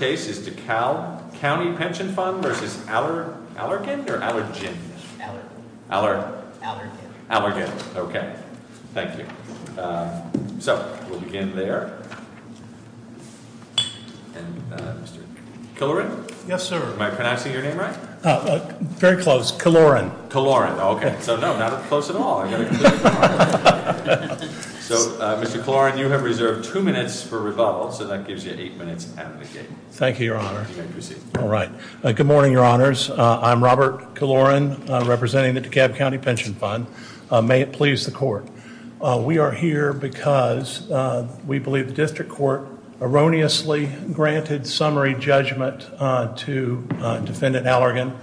case is DeKalb County Pension Fund v. Allergan, okay. Thank you. So, we'll begin there. Mr. Killoran? Yes, sir. Am I pronouncing your name right? Very close. Killoran. Killoran, okay. So, no, not close at all. So, Mr. Killoran, you have reserved two minutes for rebuttal, so that gives you eight minutes at the gate. Thank you, your honor. All right. Good morning, your honors. I'm Robert Killoran, representing the DeKalb County Pension Fund. May it please the court. We are here because we believe the district court erroneously granted summary judgment to defendant Allergan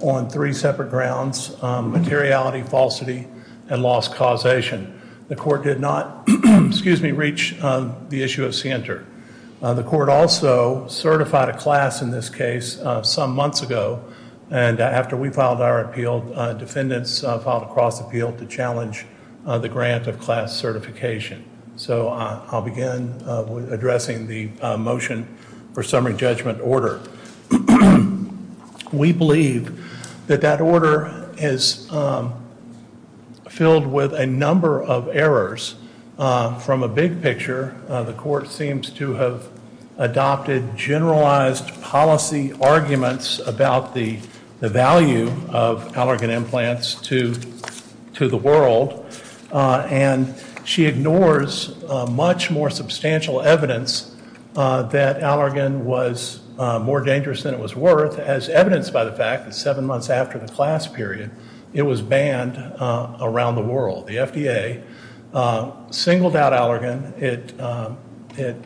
on three separate grounds, materiality, falsity, and lost causation. The court did not, excuse me, reach the issue of scienter. The court also certified a class in this case some months ago, and after we filed our appeal, defendants filed a cross appeal to challenge the grant of class certification. So, I'll begin with addressing the motion for summary judgment order. We believe that that order is filled with a number of errors. From a big picture, the court seems to have adopted generalized policy arguments about the value of Allergan implants to the world, and she ignores much more substantial evidence that Allergan was more dangerous than it was worth, as evidenced by the fact that seven months after the class period, it was banned around the world. The FDA singled out Allergan. It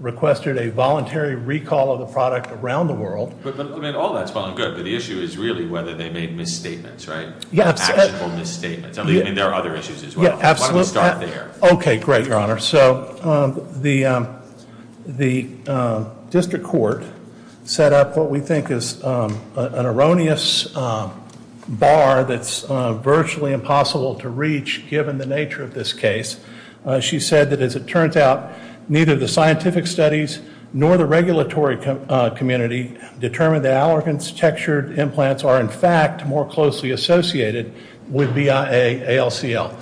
requested a voluntary recall of the product around the world. But, I mean, all that's fine and good, but the issue is really whether they made misstatements, right? Actual misstatements. I mean, there are other issues as well. Why don't we start there? Okay, great, your honor. So, the district court set up what we think is an erroneous bar that's virtually impossible to reach, given the nature of this case. She said that, as it turns out, neither the scientific studies nor the regulatory community determined that Allergan's textured implants are, in fact, more closely associated with BIA ALCL.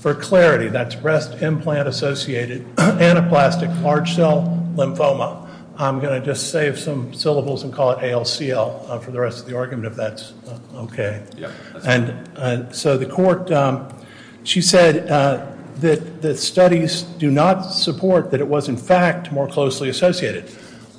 For clarity, that's Breast Implant Associated Anaplastic Large Cell Lymphoma. I'm going to just save some syllables and call it ALCL for the rest of the argument, if that's okay. And so the court, she said that the studies do not support that it was, in fact, more closely associated.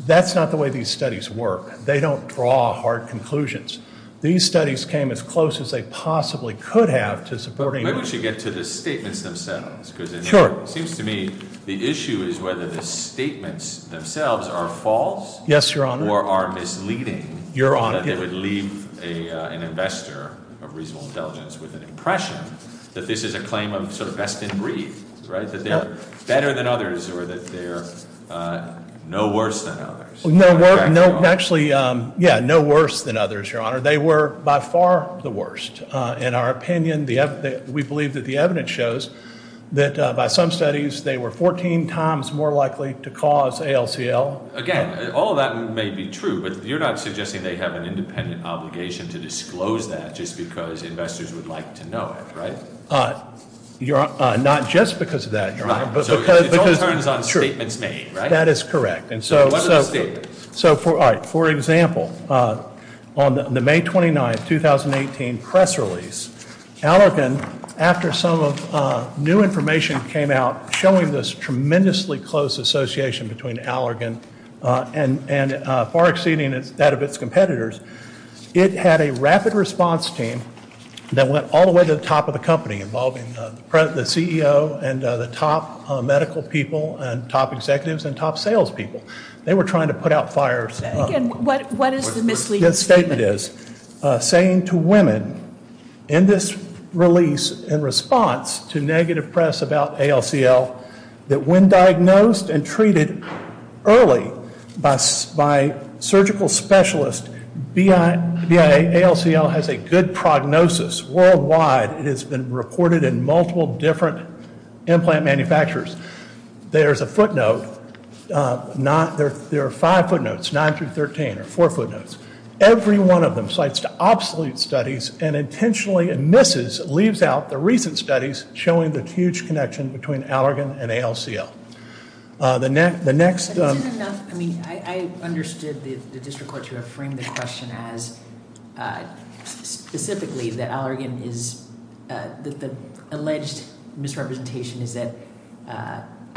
That's not the way these studies work. They don't draw hard conclusions. These studies came as close as they possibly could have to supporting. Maybe we should get to the statements themselves. Sure. Because it seems to me the issue is whether the statements themselves are false. Yes, your honor. Or are misleading. Your honor. That they would leave an investor of reasonable intelligence with an impression that this is a claim of sort of best in breed, right? That they're better than others or that they're no worse than others. No worse than others, your honor. They were by far the worst. In our opinion, we believe that the evidence shows that by some studies they were 14 times more likely to cause ALCL. Again, all of that may be true, but you're not suggesting they have an independent obligation to disclose that just because investors would like to know it, right? Not just because of that, your honor. It all turns on statements made, right? That is correct. So what are the statements? For example, on the May 29, 2018 press release, Allergan, after some new information came out showing this tremendously close association between Allergan and far exceeding that of its competitors, it had a rapid response team that went all the way to the top of the company involving the CEO and the top medical people and top executives and top sales people. They were trying to put out fires. Again, what is the misleading statement? The second is saying to women in this release in response to negative press about ALCL that when diagnosed and treated early by surgical specialists, BIA ALCL has a good prognosis worldwide. It has been reported in multiple different implant manufacturers. There's a footnote. There are five footnotes, nine through 13, or four footnotes. Every one of them cites to obsolete studies and intentionally misses, leaves out the recent studies showing the huge connection between Allergan and ALCL. The next- Is it enough? I mean, I understood the district court to have framed the question as specifically that Allergan is, that the alleged misrepresentation is that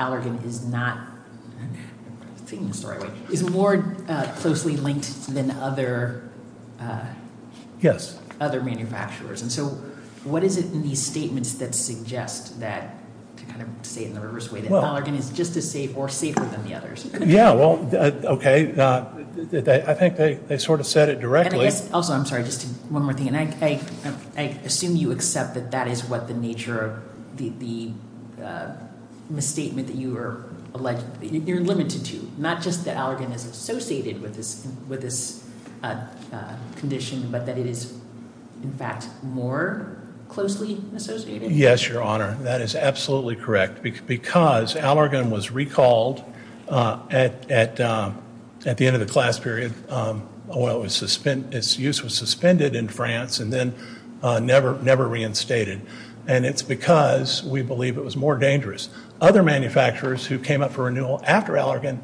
Allergan is not, I'm taking the story away, is more closely linked than other manufacturers. And so what is it in these statements that suggest that, to kind of say it in the reverse way, that Allergan is just as safe or safer than the others? Yeah, well, okay. I think they sort of said it directly. Also, I'm sorry, just one more thing. I assume you accept that that is what the nature of the misstatement that you are, you're limited to, not just that Allergan is associated with this condition, but that it is, in fact, more closely associated? Yes, Your Honor. That is absolutely correct. Because Allergan was recalled at the end of the class period. Its use was suspended in France and then never reinstated. And it's because we believe it was more dangerous. Other manufacturers who came up for renewal after Allergan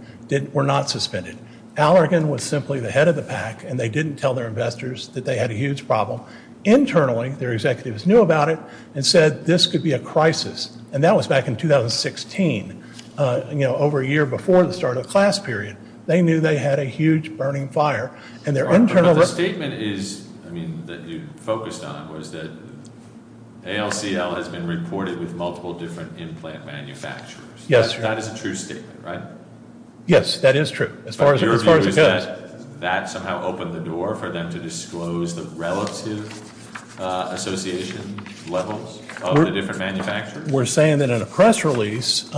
were not suspended. Allergan was simply the head of the pack, and they didn't tell their investors that they had a huge problem. Internally, their executives knew about it and said this could be a crisis. And that was back in 2016, you know, over a year before the start of the class period. They knew they had a huge burning fire. But the statement is, I mean, that you focused on was that ALCL has been reported with multiple different implant manufacturers. Yes, Your Honor. That is a true statement, right? Yes, that is true, as far as it goes. That somehow opened the door for them to disclose the relative association levels of the different manufacturers? We're saying that in a press release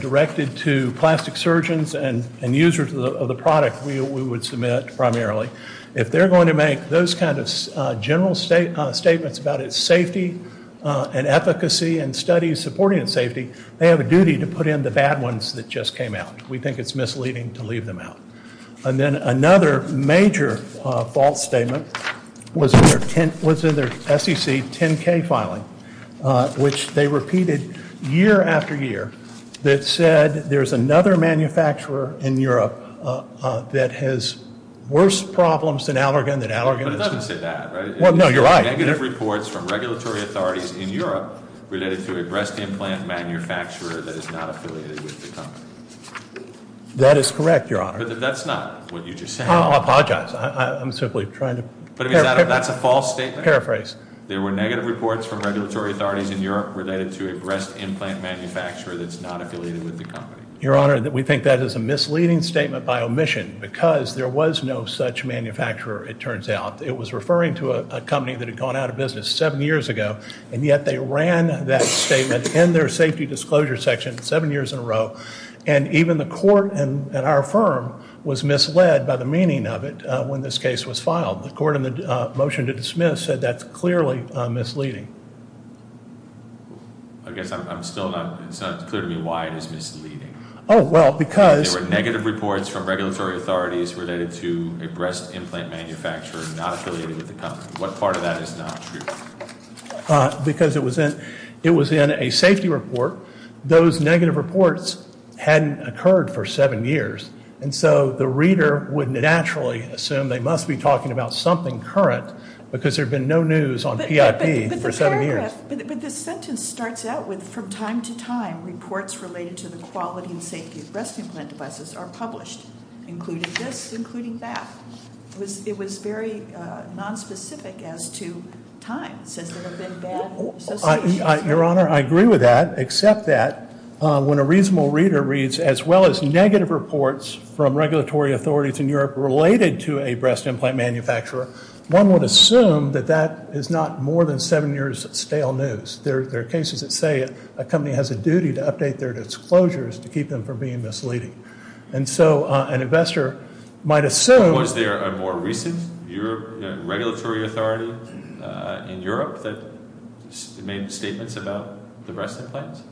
directed to plastic surgeons and users of the product we would submit primarily, if they're going to make those kind of general statements about its safety and efficacy and studies supporting its safety, they have a duty to put in the bad ones that just came out. We think it's misleading to leave them out. And then another major false statement was in their SEC 10-K filing, which they repeated year after year that said there's another manufacturer in Europe that has worse problems than Allergan. But it doesn't say that, right? Well, no, you're right. There were negative reports from regulatory authorities in Europe related to a breast implant manufacturer that is not affiliated with the company. That is correct, Your Honor. But that's not what you just said. I apologize. I'm simply trying to paraphrase. That's a false statement? Paraphrase. There were negative reports from regulatory authorities in Europe related to a breast implant manufacturer that's not affiliated with the company. Your Honor, we think that is a misleading statement by omission because there was no such manufacturer, it turns out. It was referring to a company that had gone out of business seven years ago, and yet they ran that statement in their safety disclosure section seven years in a row. And even the court at our firm was misled by the meaning of it when this case was filed. The court in the motion to dismiss said that's clearly misleading. I guess it's not clear to me why it is misleading. Oh, well, because- There were negative reports from regulatory authorities related to a breast implant manufacturer not affiliated with the company. What part of that is not true? Because it was in a safety report. Those negative reports hadn't occurred for seven years, and so the reader would naturally assume they must be talking about something current because there had been no news on PIP for seven years. But the sentence starts out with, from time to time, reports related to the quality and safety of breast implant devices are published, including this, including that. It was very nonspecific as to time, since there have been bad associations. Your Honor, I agree with that, except that when a reasonable reader reads, as well as negative reports from regulatory authorities in Europe related to a breast implant manufacturer, one would assume that that is not more than seven years of stale news. There are cases that say a company has a duty to update their disclosures to keep them from being misleading. And so an investor might assume- Was there a more recent regulatory authority in Europe that made statements about the breast implants?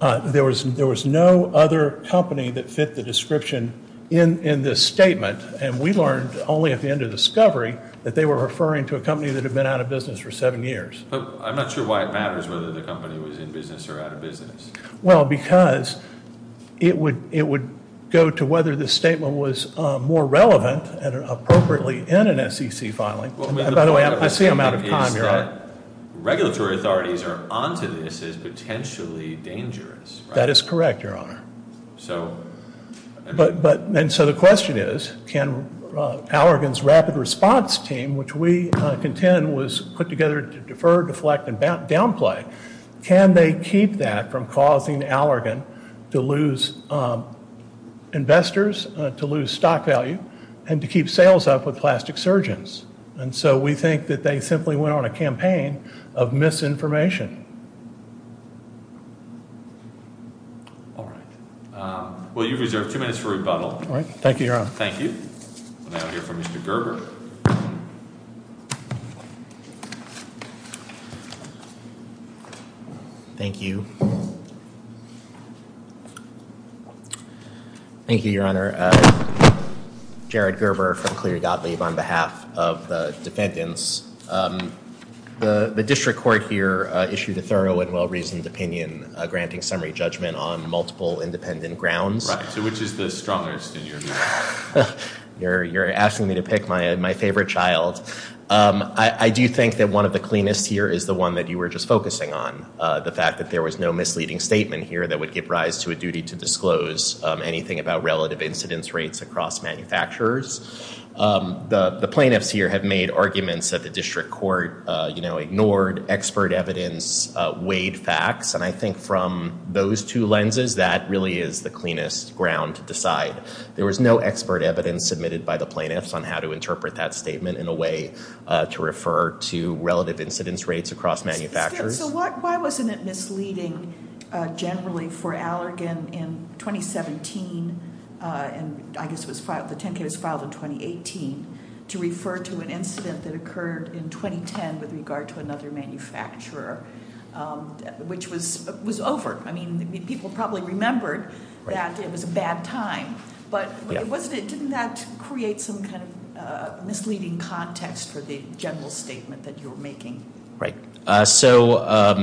There was no other company that fit the description in this statement, and we learned only at the end of the discovery that they were referring to a company that had been out of business for seven years. But I'm not sure why it matters whether the company was in business or out of business. Well, because it would go to whether the statement was more relevant and appropriately in an SEC filing. By the way, I see I'm out of time, Your Honor. Regulatory authorities are onto this as potentially dangerous, right? That is correct, Your Honor. And so the question is, can Allergan's rapid response team, which we contend was put together to defer, deflect, and downplay, can they keep that from causing Allergan to lose investors, to lose stock value, and to keep sales up with plastic surgeons? And so we think that they simply went on a campaign of misinformation. All right. Well, you've reserved two minutes for rebuttal. All right. Thank you, Your Honor. Thank you. We'll now hear from Mr. Gerber. Thank you. Thank you, Your Honor. Jared Gerber from Clear Godly on behalf of the defendants. The district court here issued a thorough and well-reasoned opinion, granting summary judgment on multiple independent grounds. Right. So which is the strongest in your view? You're asking me to pick my favorite child. I do think that one of the cleanest here is the one that you were just focusing on, the fact that there was no misleading statement here that would give rise to a duty to disclose anything about relative incidence rates across manufacturers. The plaintiffs here have made arguments that the district court ignored expert evidence, weighed facts. And I think from those two lenses, that really is the cleanest ground to decide. There was no expert evidence submitted by the plaintiffs on how to interpret that statement in a way to refer to relative incidence rates across manufacturers. So why wasn't it misleading generally for Allergan in 2017, and I guess it was filed, the 10K was filed in 2018, to refer to an incident that occurred in 2010 with regard to another manufacturer, which was overt. I mean, people probably remembered that it was a bad time, but wasn't it, didn't that create some kind of misleading context for the general statement that you were making? Right. So,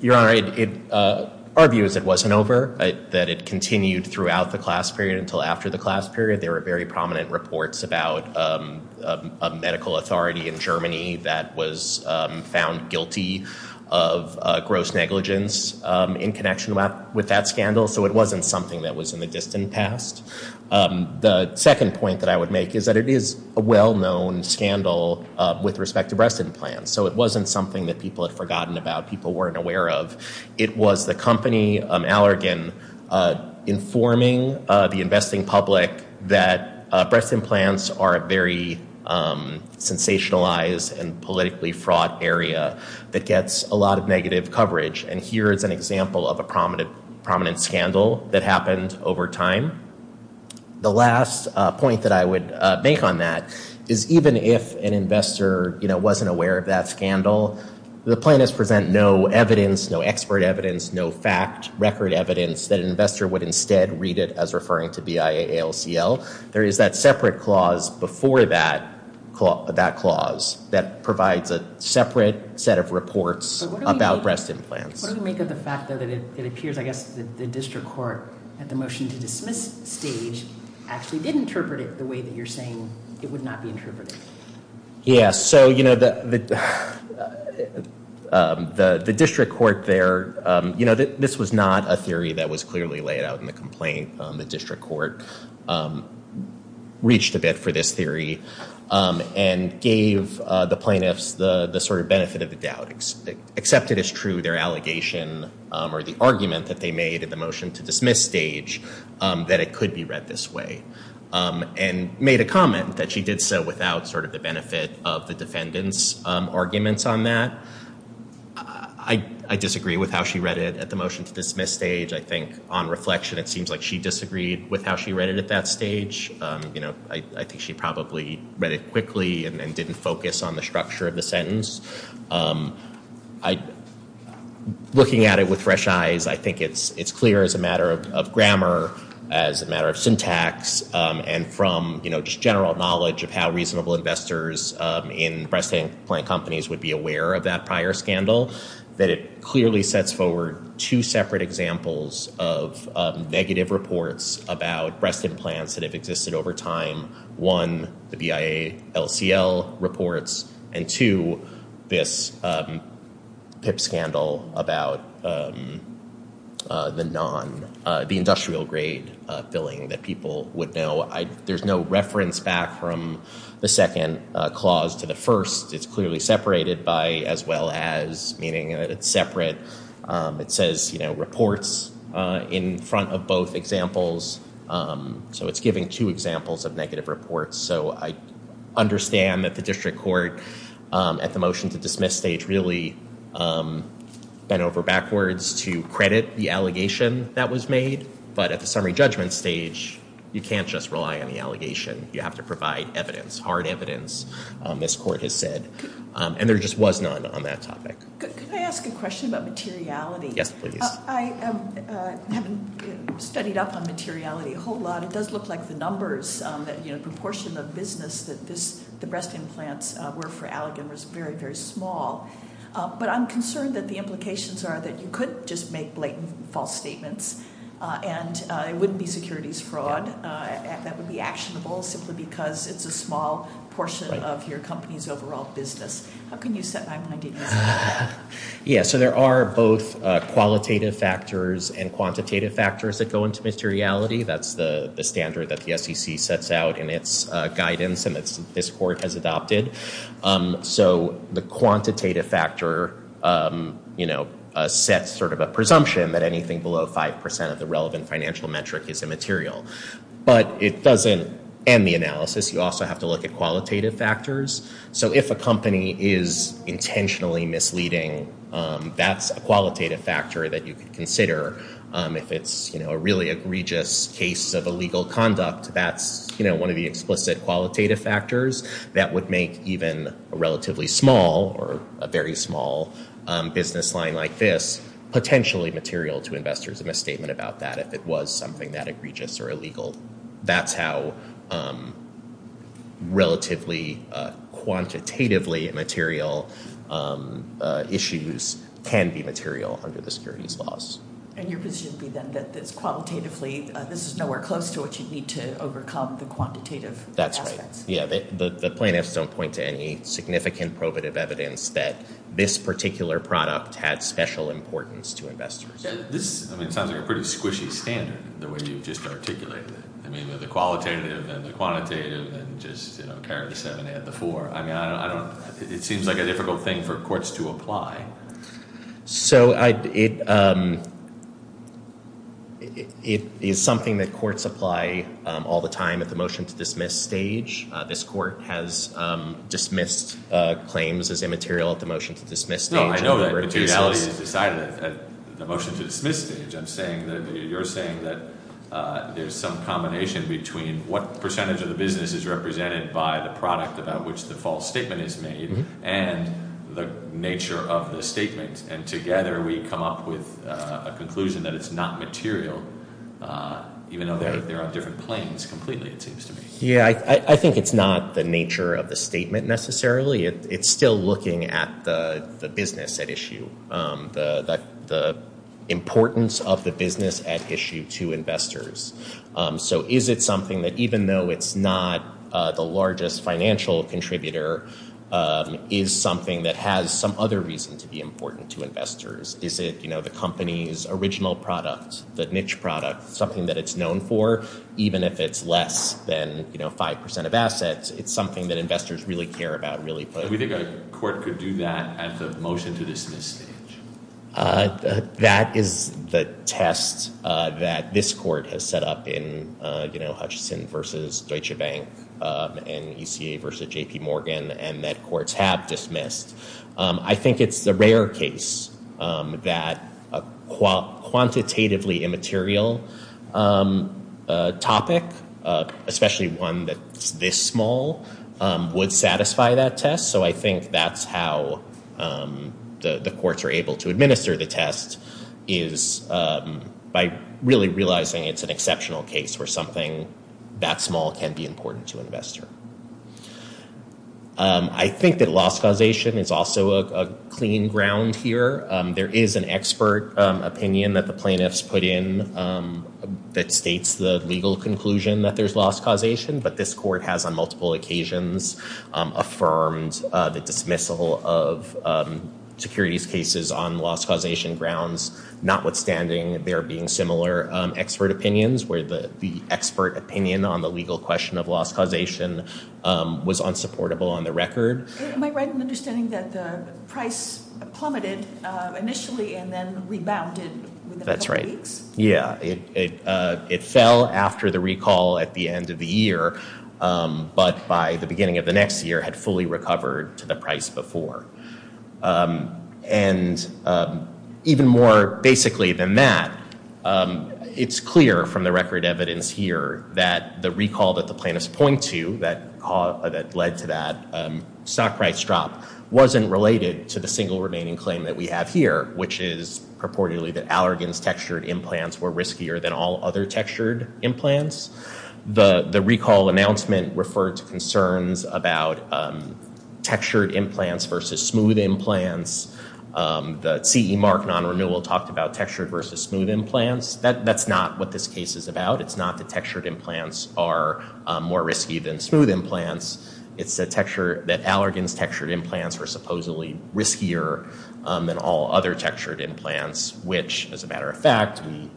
Your Honor, our view is it wasn't over, that it continued throughout the class period until after the class period. There were very prominent reports about a medical authority in Germany that was found guilty of gross negligence in connection with that scandal. So it wasn't something that was in the distant past. The second point that I would make is that it is a well-known scandal with respect to breast implants. So it wasn't something that people had forgotten about, people weren't aware of. It was the company, Allergan, informing the investing public that breast implants are a very sensationalized and politically fraught area that gets a lot of negative coverage. And here is an example of a prominent scandal that happened over time. The last point that I would make on that is even if an investor wasn't aware of that scandal, the plaintiffs present no evidence, no expert evidence, no fact, record evidence, that an investor would instead read it as referring to BIA ALCL. There is that separate clause before that clause that provides a separate set of reports about breast implants. What does it make of the fact that it appears, I guess, that the district court at the motion to dismiss stage actually did interpret it the way that you're saying it would not be interpreted? Yeah, so, you know, the district court there, you know, this was not a theory that was clearly laid out in the complaint. The district court reached a bit for this theory and gave the plaintiffs the sort of benefit of the doubt. Accepted as true their allegation or the argument that they made at the motion to dismiss stage that it could be read this way. And made a comment that she did so without sort of the benefit of the defendant's arguments on that. I disagree with how she read it at the motion to dismiss stage. I think on reflection it seems like she disagreed with how she read it at that stage. You know, I think she probably read it quickly and didn't focus on the structure of the sentence. Looking at it with fresh eyes, I think it's clear as a matter of grammar, as a matter of syntax, and from, you know, just general knowledge of how reasonable investors in breast implant companies would be aware of that prior scandal, that it clearly sets forward two separate examples of negative reports about breast implants that have existed over time. One, the BIA LCL reports, and two, this PIP scandal about the non, the industrial grade billing that people would know. There's no reference back from the second clause to the first. It's clearly separated by as well as meaning that it's separate. It says, you know, reports in front of both examples. So it's giving two examples of negative reports. So I understand that the district court at the motion to dismiss stage really bent over backwards to credit the allegation that was made. But at the summary judgment stage, you can't just rely on the allegation. You have to provide evidence, hard evidence. This court has said, and there just was none on that topic. Can I ask a question about materiality? Yes, please. I haven't studied up on materiality a whole lot. It does look like the numbers, you know, the proportion of business that the breast implants were for Allegan was very, very small. But I'm concerned that the implications are that you could just make blatant false statements, and it wouldn't be securities fraud. That would be actionable simply because it's a small portion of your company's overall business. How can you set my mind against that? Yeah, so there are both qualitative factors and quantitative factors that go into materiality. That's the standard that the SEC sets out in its guidance and that this court has adopted. So the quantitative factor sets sort of a presumption that anything below 5% of the relevant financial metric is immaterial. But it doesn't end the analysis. You also have to look at qualitative factors. So if a company is intentionally misleading, that's a qualitative factor that you could consider. If it's a really egregious case of illegal conduct, that's one of the explicit qualitative factors. That would make even a relatively small or a very small business line like this potentially material to investors, a misstatement about that if it was something that egregious or illegal. That's how relatively quantitatively immaterial issues can be material under the securities laws. And your position would be then that this is nowhere close to what you'd need to overcome the quantitative aspects. Yeah, the plaintiffs don't point to any significant probative evidence that this particular product had special importance to investors. This sounds like a pretty squishy standard, the way you've just articulated it. I mean, the qualitative and the quantitative and just carry the 7 and add the 4. I mean, it seems like a difficult thing for courts to apply. So it is something that courts apply all the time at the motion-to-dismiss stage. This court has dismissed claims as immaterial at the motion-to-dismiss stage. No, I know that materiality is decided at the motion-to-dismiss stage. I'm saying that you're saying that there's some combination between what percentage of the business is represented by the product about which the false statement is made and the nature of the statement. And together we come up with a conclusion that it's not material, even though they're on different planes completely, it seems to me. Yeah, I think it's not the nature of the statement necessarily. It's still looking at the business at issue, the importance of the business at issue to investors. So is it something that even though it's not the largest financial contributor, is something that has some other reason to be important to investors? Is it, you know, the company's original product, the niche product, something that it's known for, even if it's less than, you know, 5% of assets? It's something that investors really care about, really put. We think a court could do that at the motion-to-dismiss stage. That is the test that this court has set up in, you know, Hutchison v. Deutsche Bank and ECA v. J.P. Morgan and that courts have dismissed. I think it's the rare case that a quantitatively immaterial topic, especially one that's this small, would satisfy that test. So I think that's how the courts are able to administer the test is by really realizing it's an exceptional case where something that small can be important to an investor. I think that loss causation is also a clean ground here. There is an expert opinion that the plaintiffs put in that states the legal conclusion that there's loss causation, but this court has on multiple occasions affirmed the dismissal of securities cases on loss causation grounds, notwithstanding there being similar expert opinions where the expert opinion on the legal question of loss causation was unsupportable on the record. Am I right in understanding that the price plummeted initially and then rebounded within a couple weeks? That's right. Yeah. It fell after the recall at the end of the year, but by the beginning of the next year had fully recovered to the price before. And even more basically than that, it's clear from the record evidence here that the recall that the plaintiffs point to that led to that stock price drop wasn't related to the single remaining claim that we have here, which is purportedly that Allergan's textured implants were riskier than all other textured implants. The recall announcement referred to concerns about textured implants versus smooth implants. The CE Mark non-renewal talked about textured versus smooth implants. That's not what this case is about. It's not that textured implants are more risky than smooth implants. It's that Allergan's textured implants were supposedly riskier than all other textured implants, which, as a matter of fact, we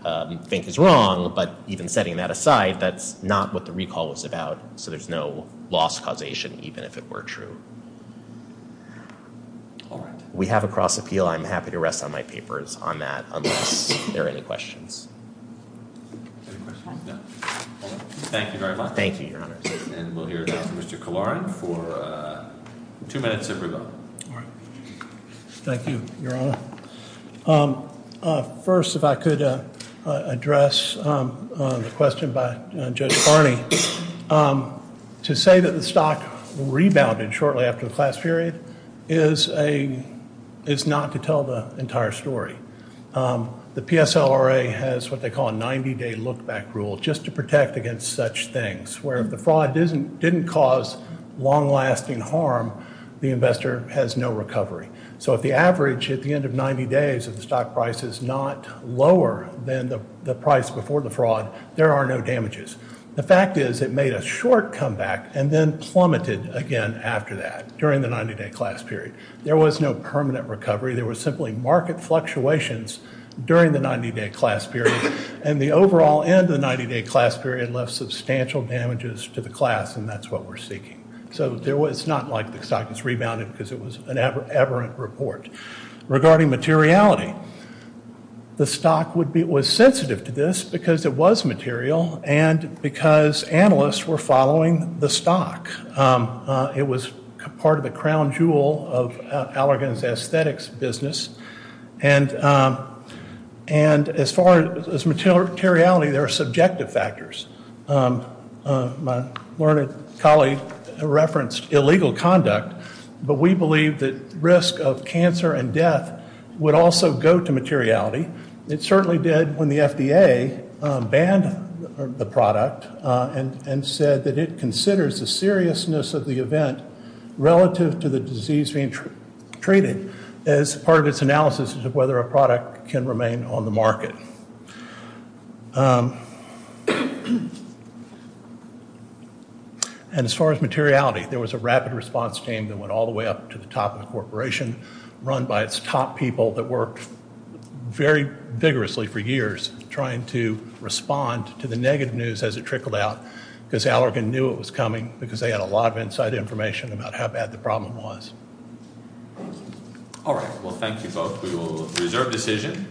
think is wrong. But even setting that aside, that's not what the recall was about. So there's no loss causation, even if it were true. All right. We have a cross appeal. I'm happy to rest on my papers on that unless there are any questions. Thank you very much. Thank you, Your Honor. And we'll hear from Mr. Kilaran for two minutes if we're going. Thank you, Your Honor. First, if I could address the question by Judge Barney. To say that the stock rebounded shortly after the class period is not to tell the entire story. The PSLRA has what they call a 90 day look back rule just to protect against such things, where if the fraud didn't cause long lasting harm, the investor has no recovery. So if the average at the end of 90 days of the stock price is not lower than the price before the fraud, there are no damages. The fact is it made a short comeback and then plummeted again after that during the 90 day class period. There was no permanent recovery. There was simply market fluctuations during the 90 day class period. And the overall end of the 90 day class period left substantial damages to the class. And that's what we're seeking. So there was not like the stock was rebounded because it was an aberrant report. Regarding materiality, the stock was sensitive to this because it was material and because analysts were following the stock. It was part of the crown jewel of Allergan's aesthetics business. And as far as materiality, there are subjective factors. My learned colleague referenced illegal conduct, but we believe that risk of cancer and death would also go to materiality. It certainly did when the FDA banned the product and said that it considers the seriousness of the event relative to the disease being treated as part of its analysis of whether a product can remain on the market. And as far as materiality, there was a rapid response team that went all the way up to the top of the corporation, run by its top people that worked very vigorously for years trying to respond to the negative news as it trickled out because Allergan knew it was coming because they had a lot of inside information about how bad the problem was. All right. Well, thank you both. We will reserve decision.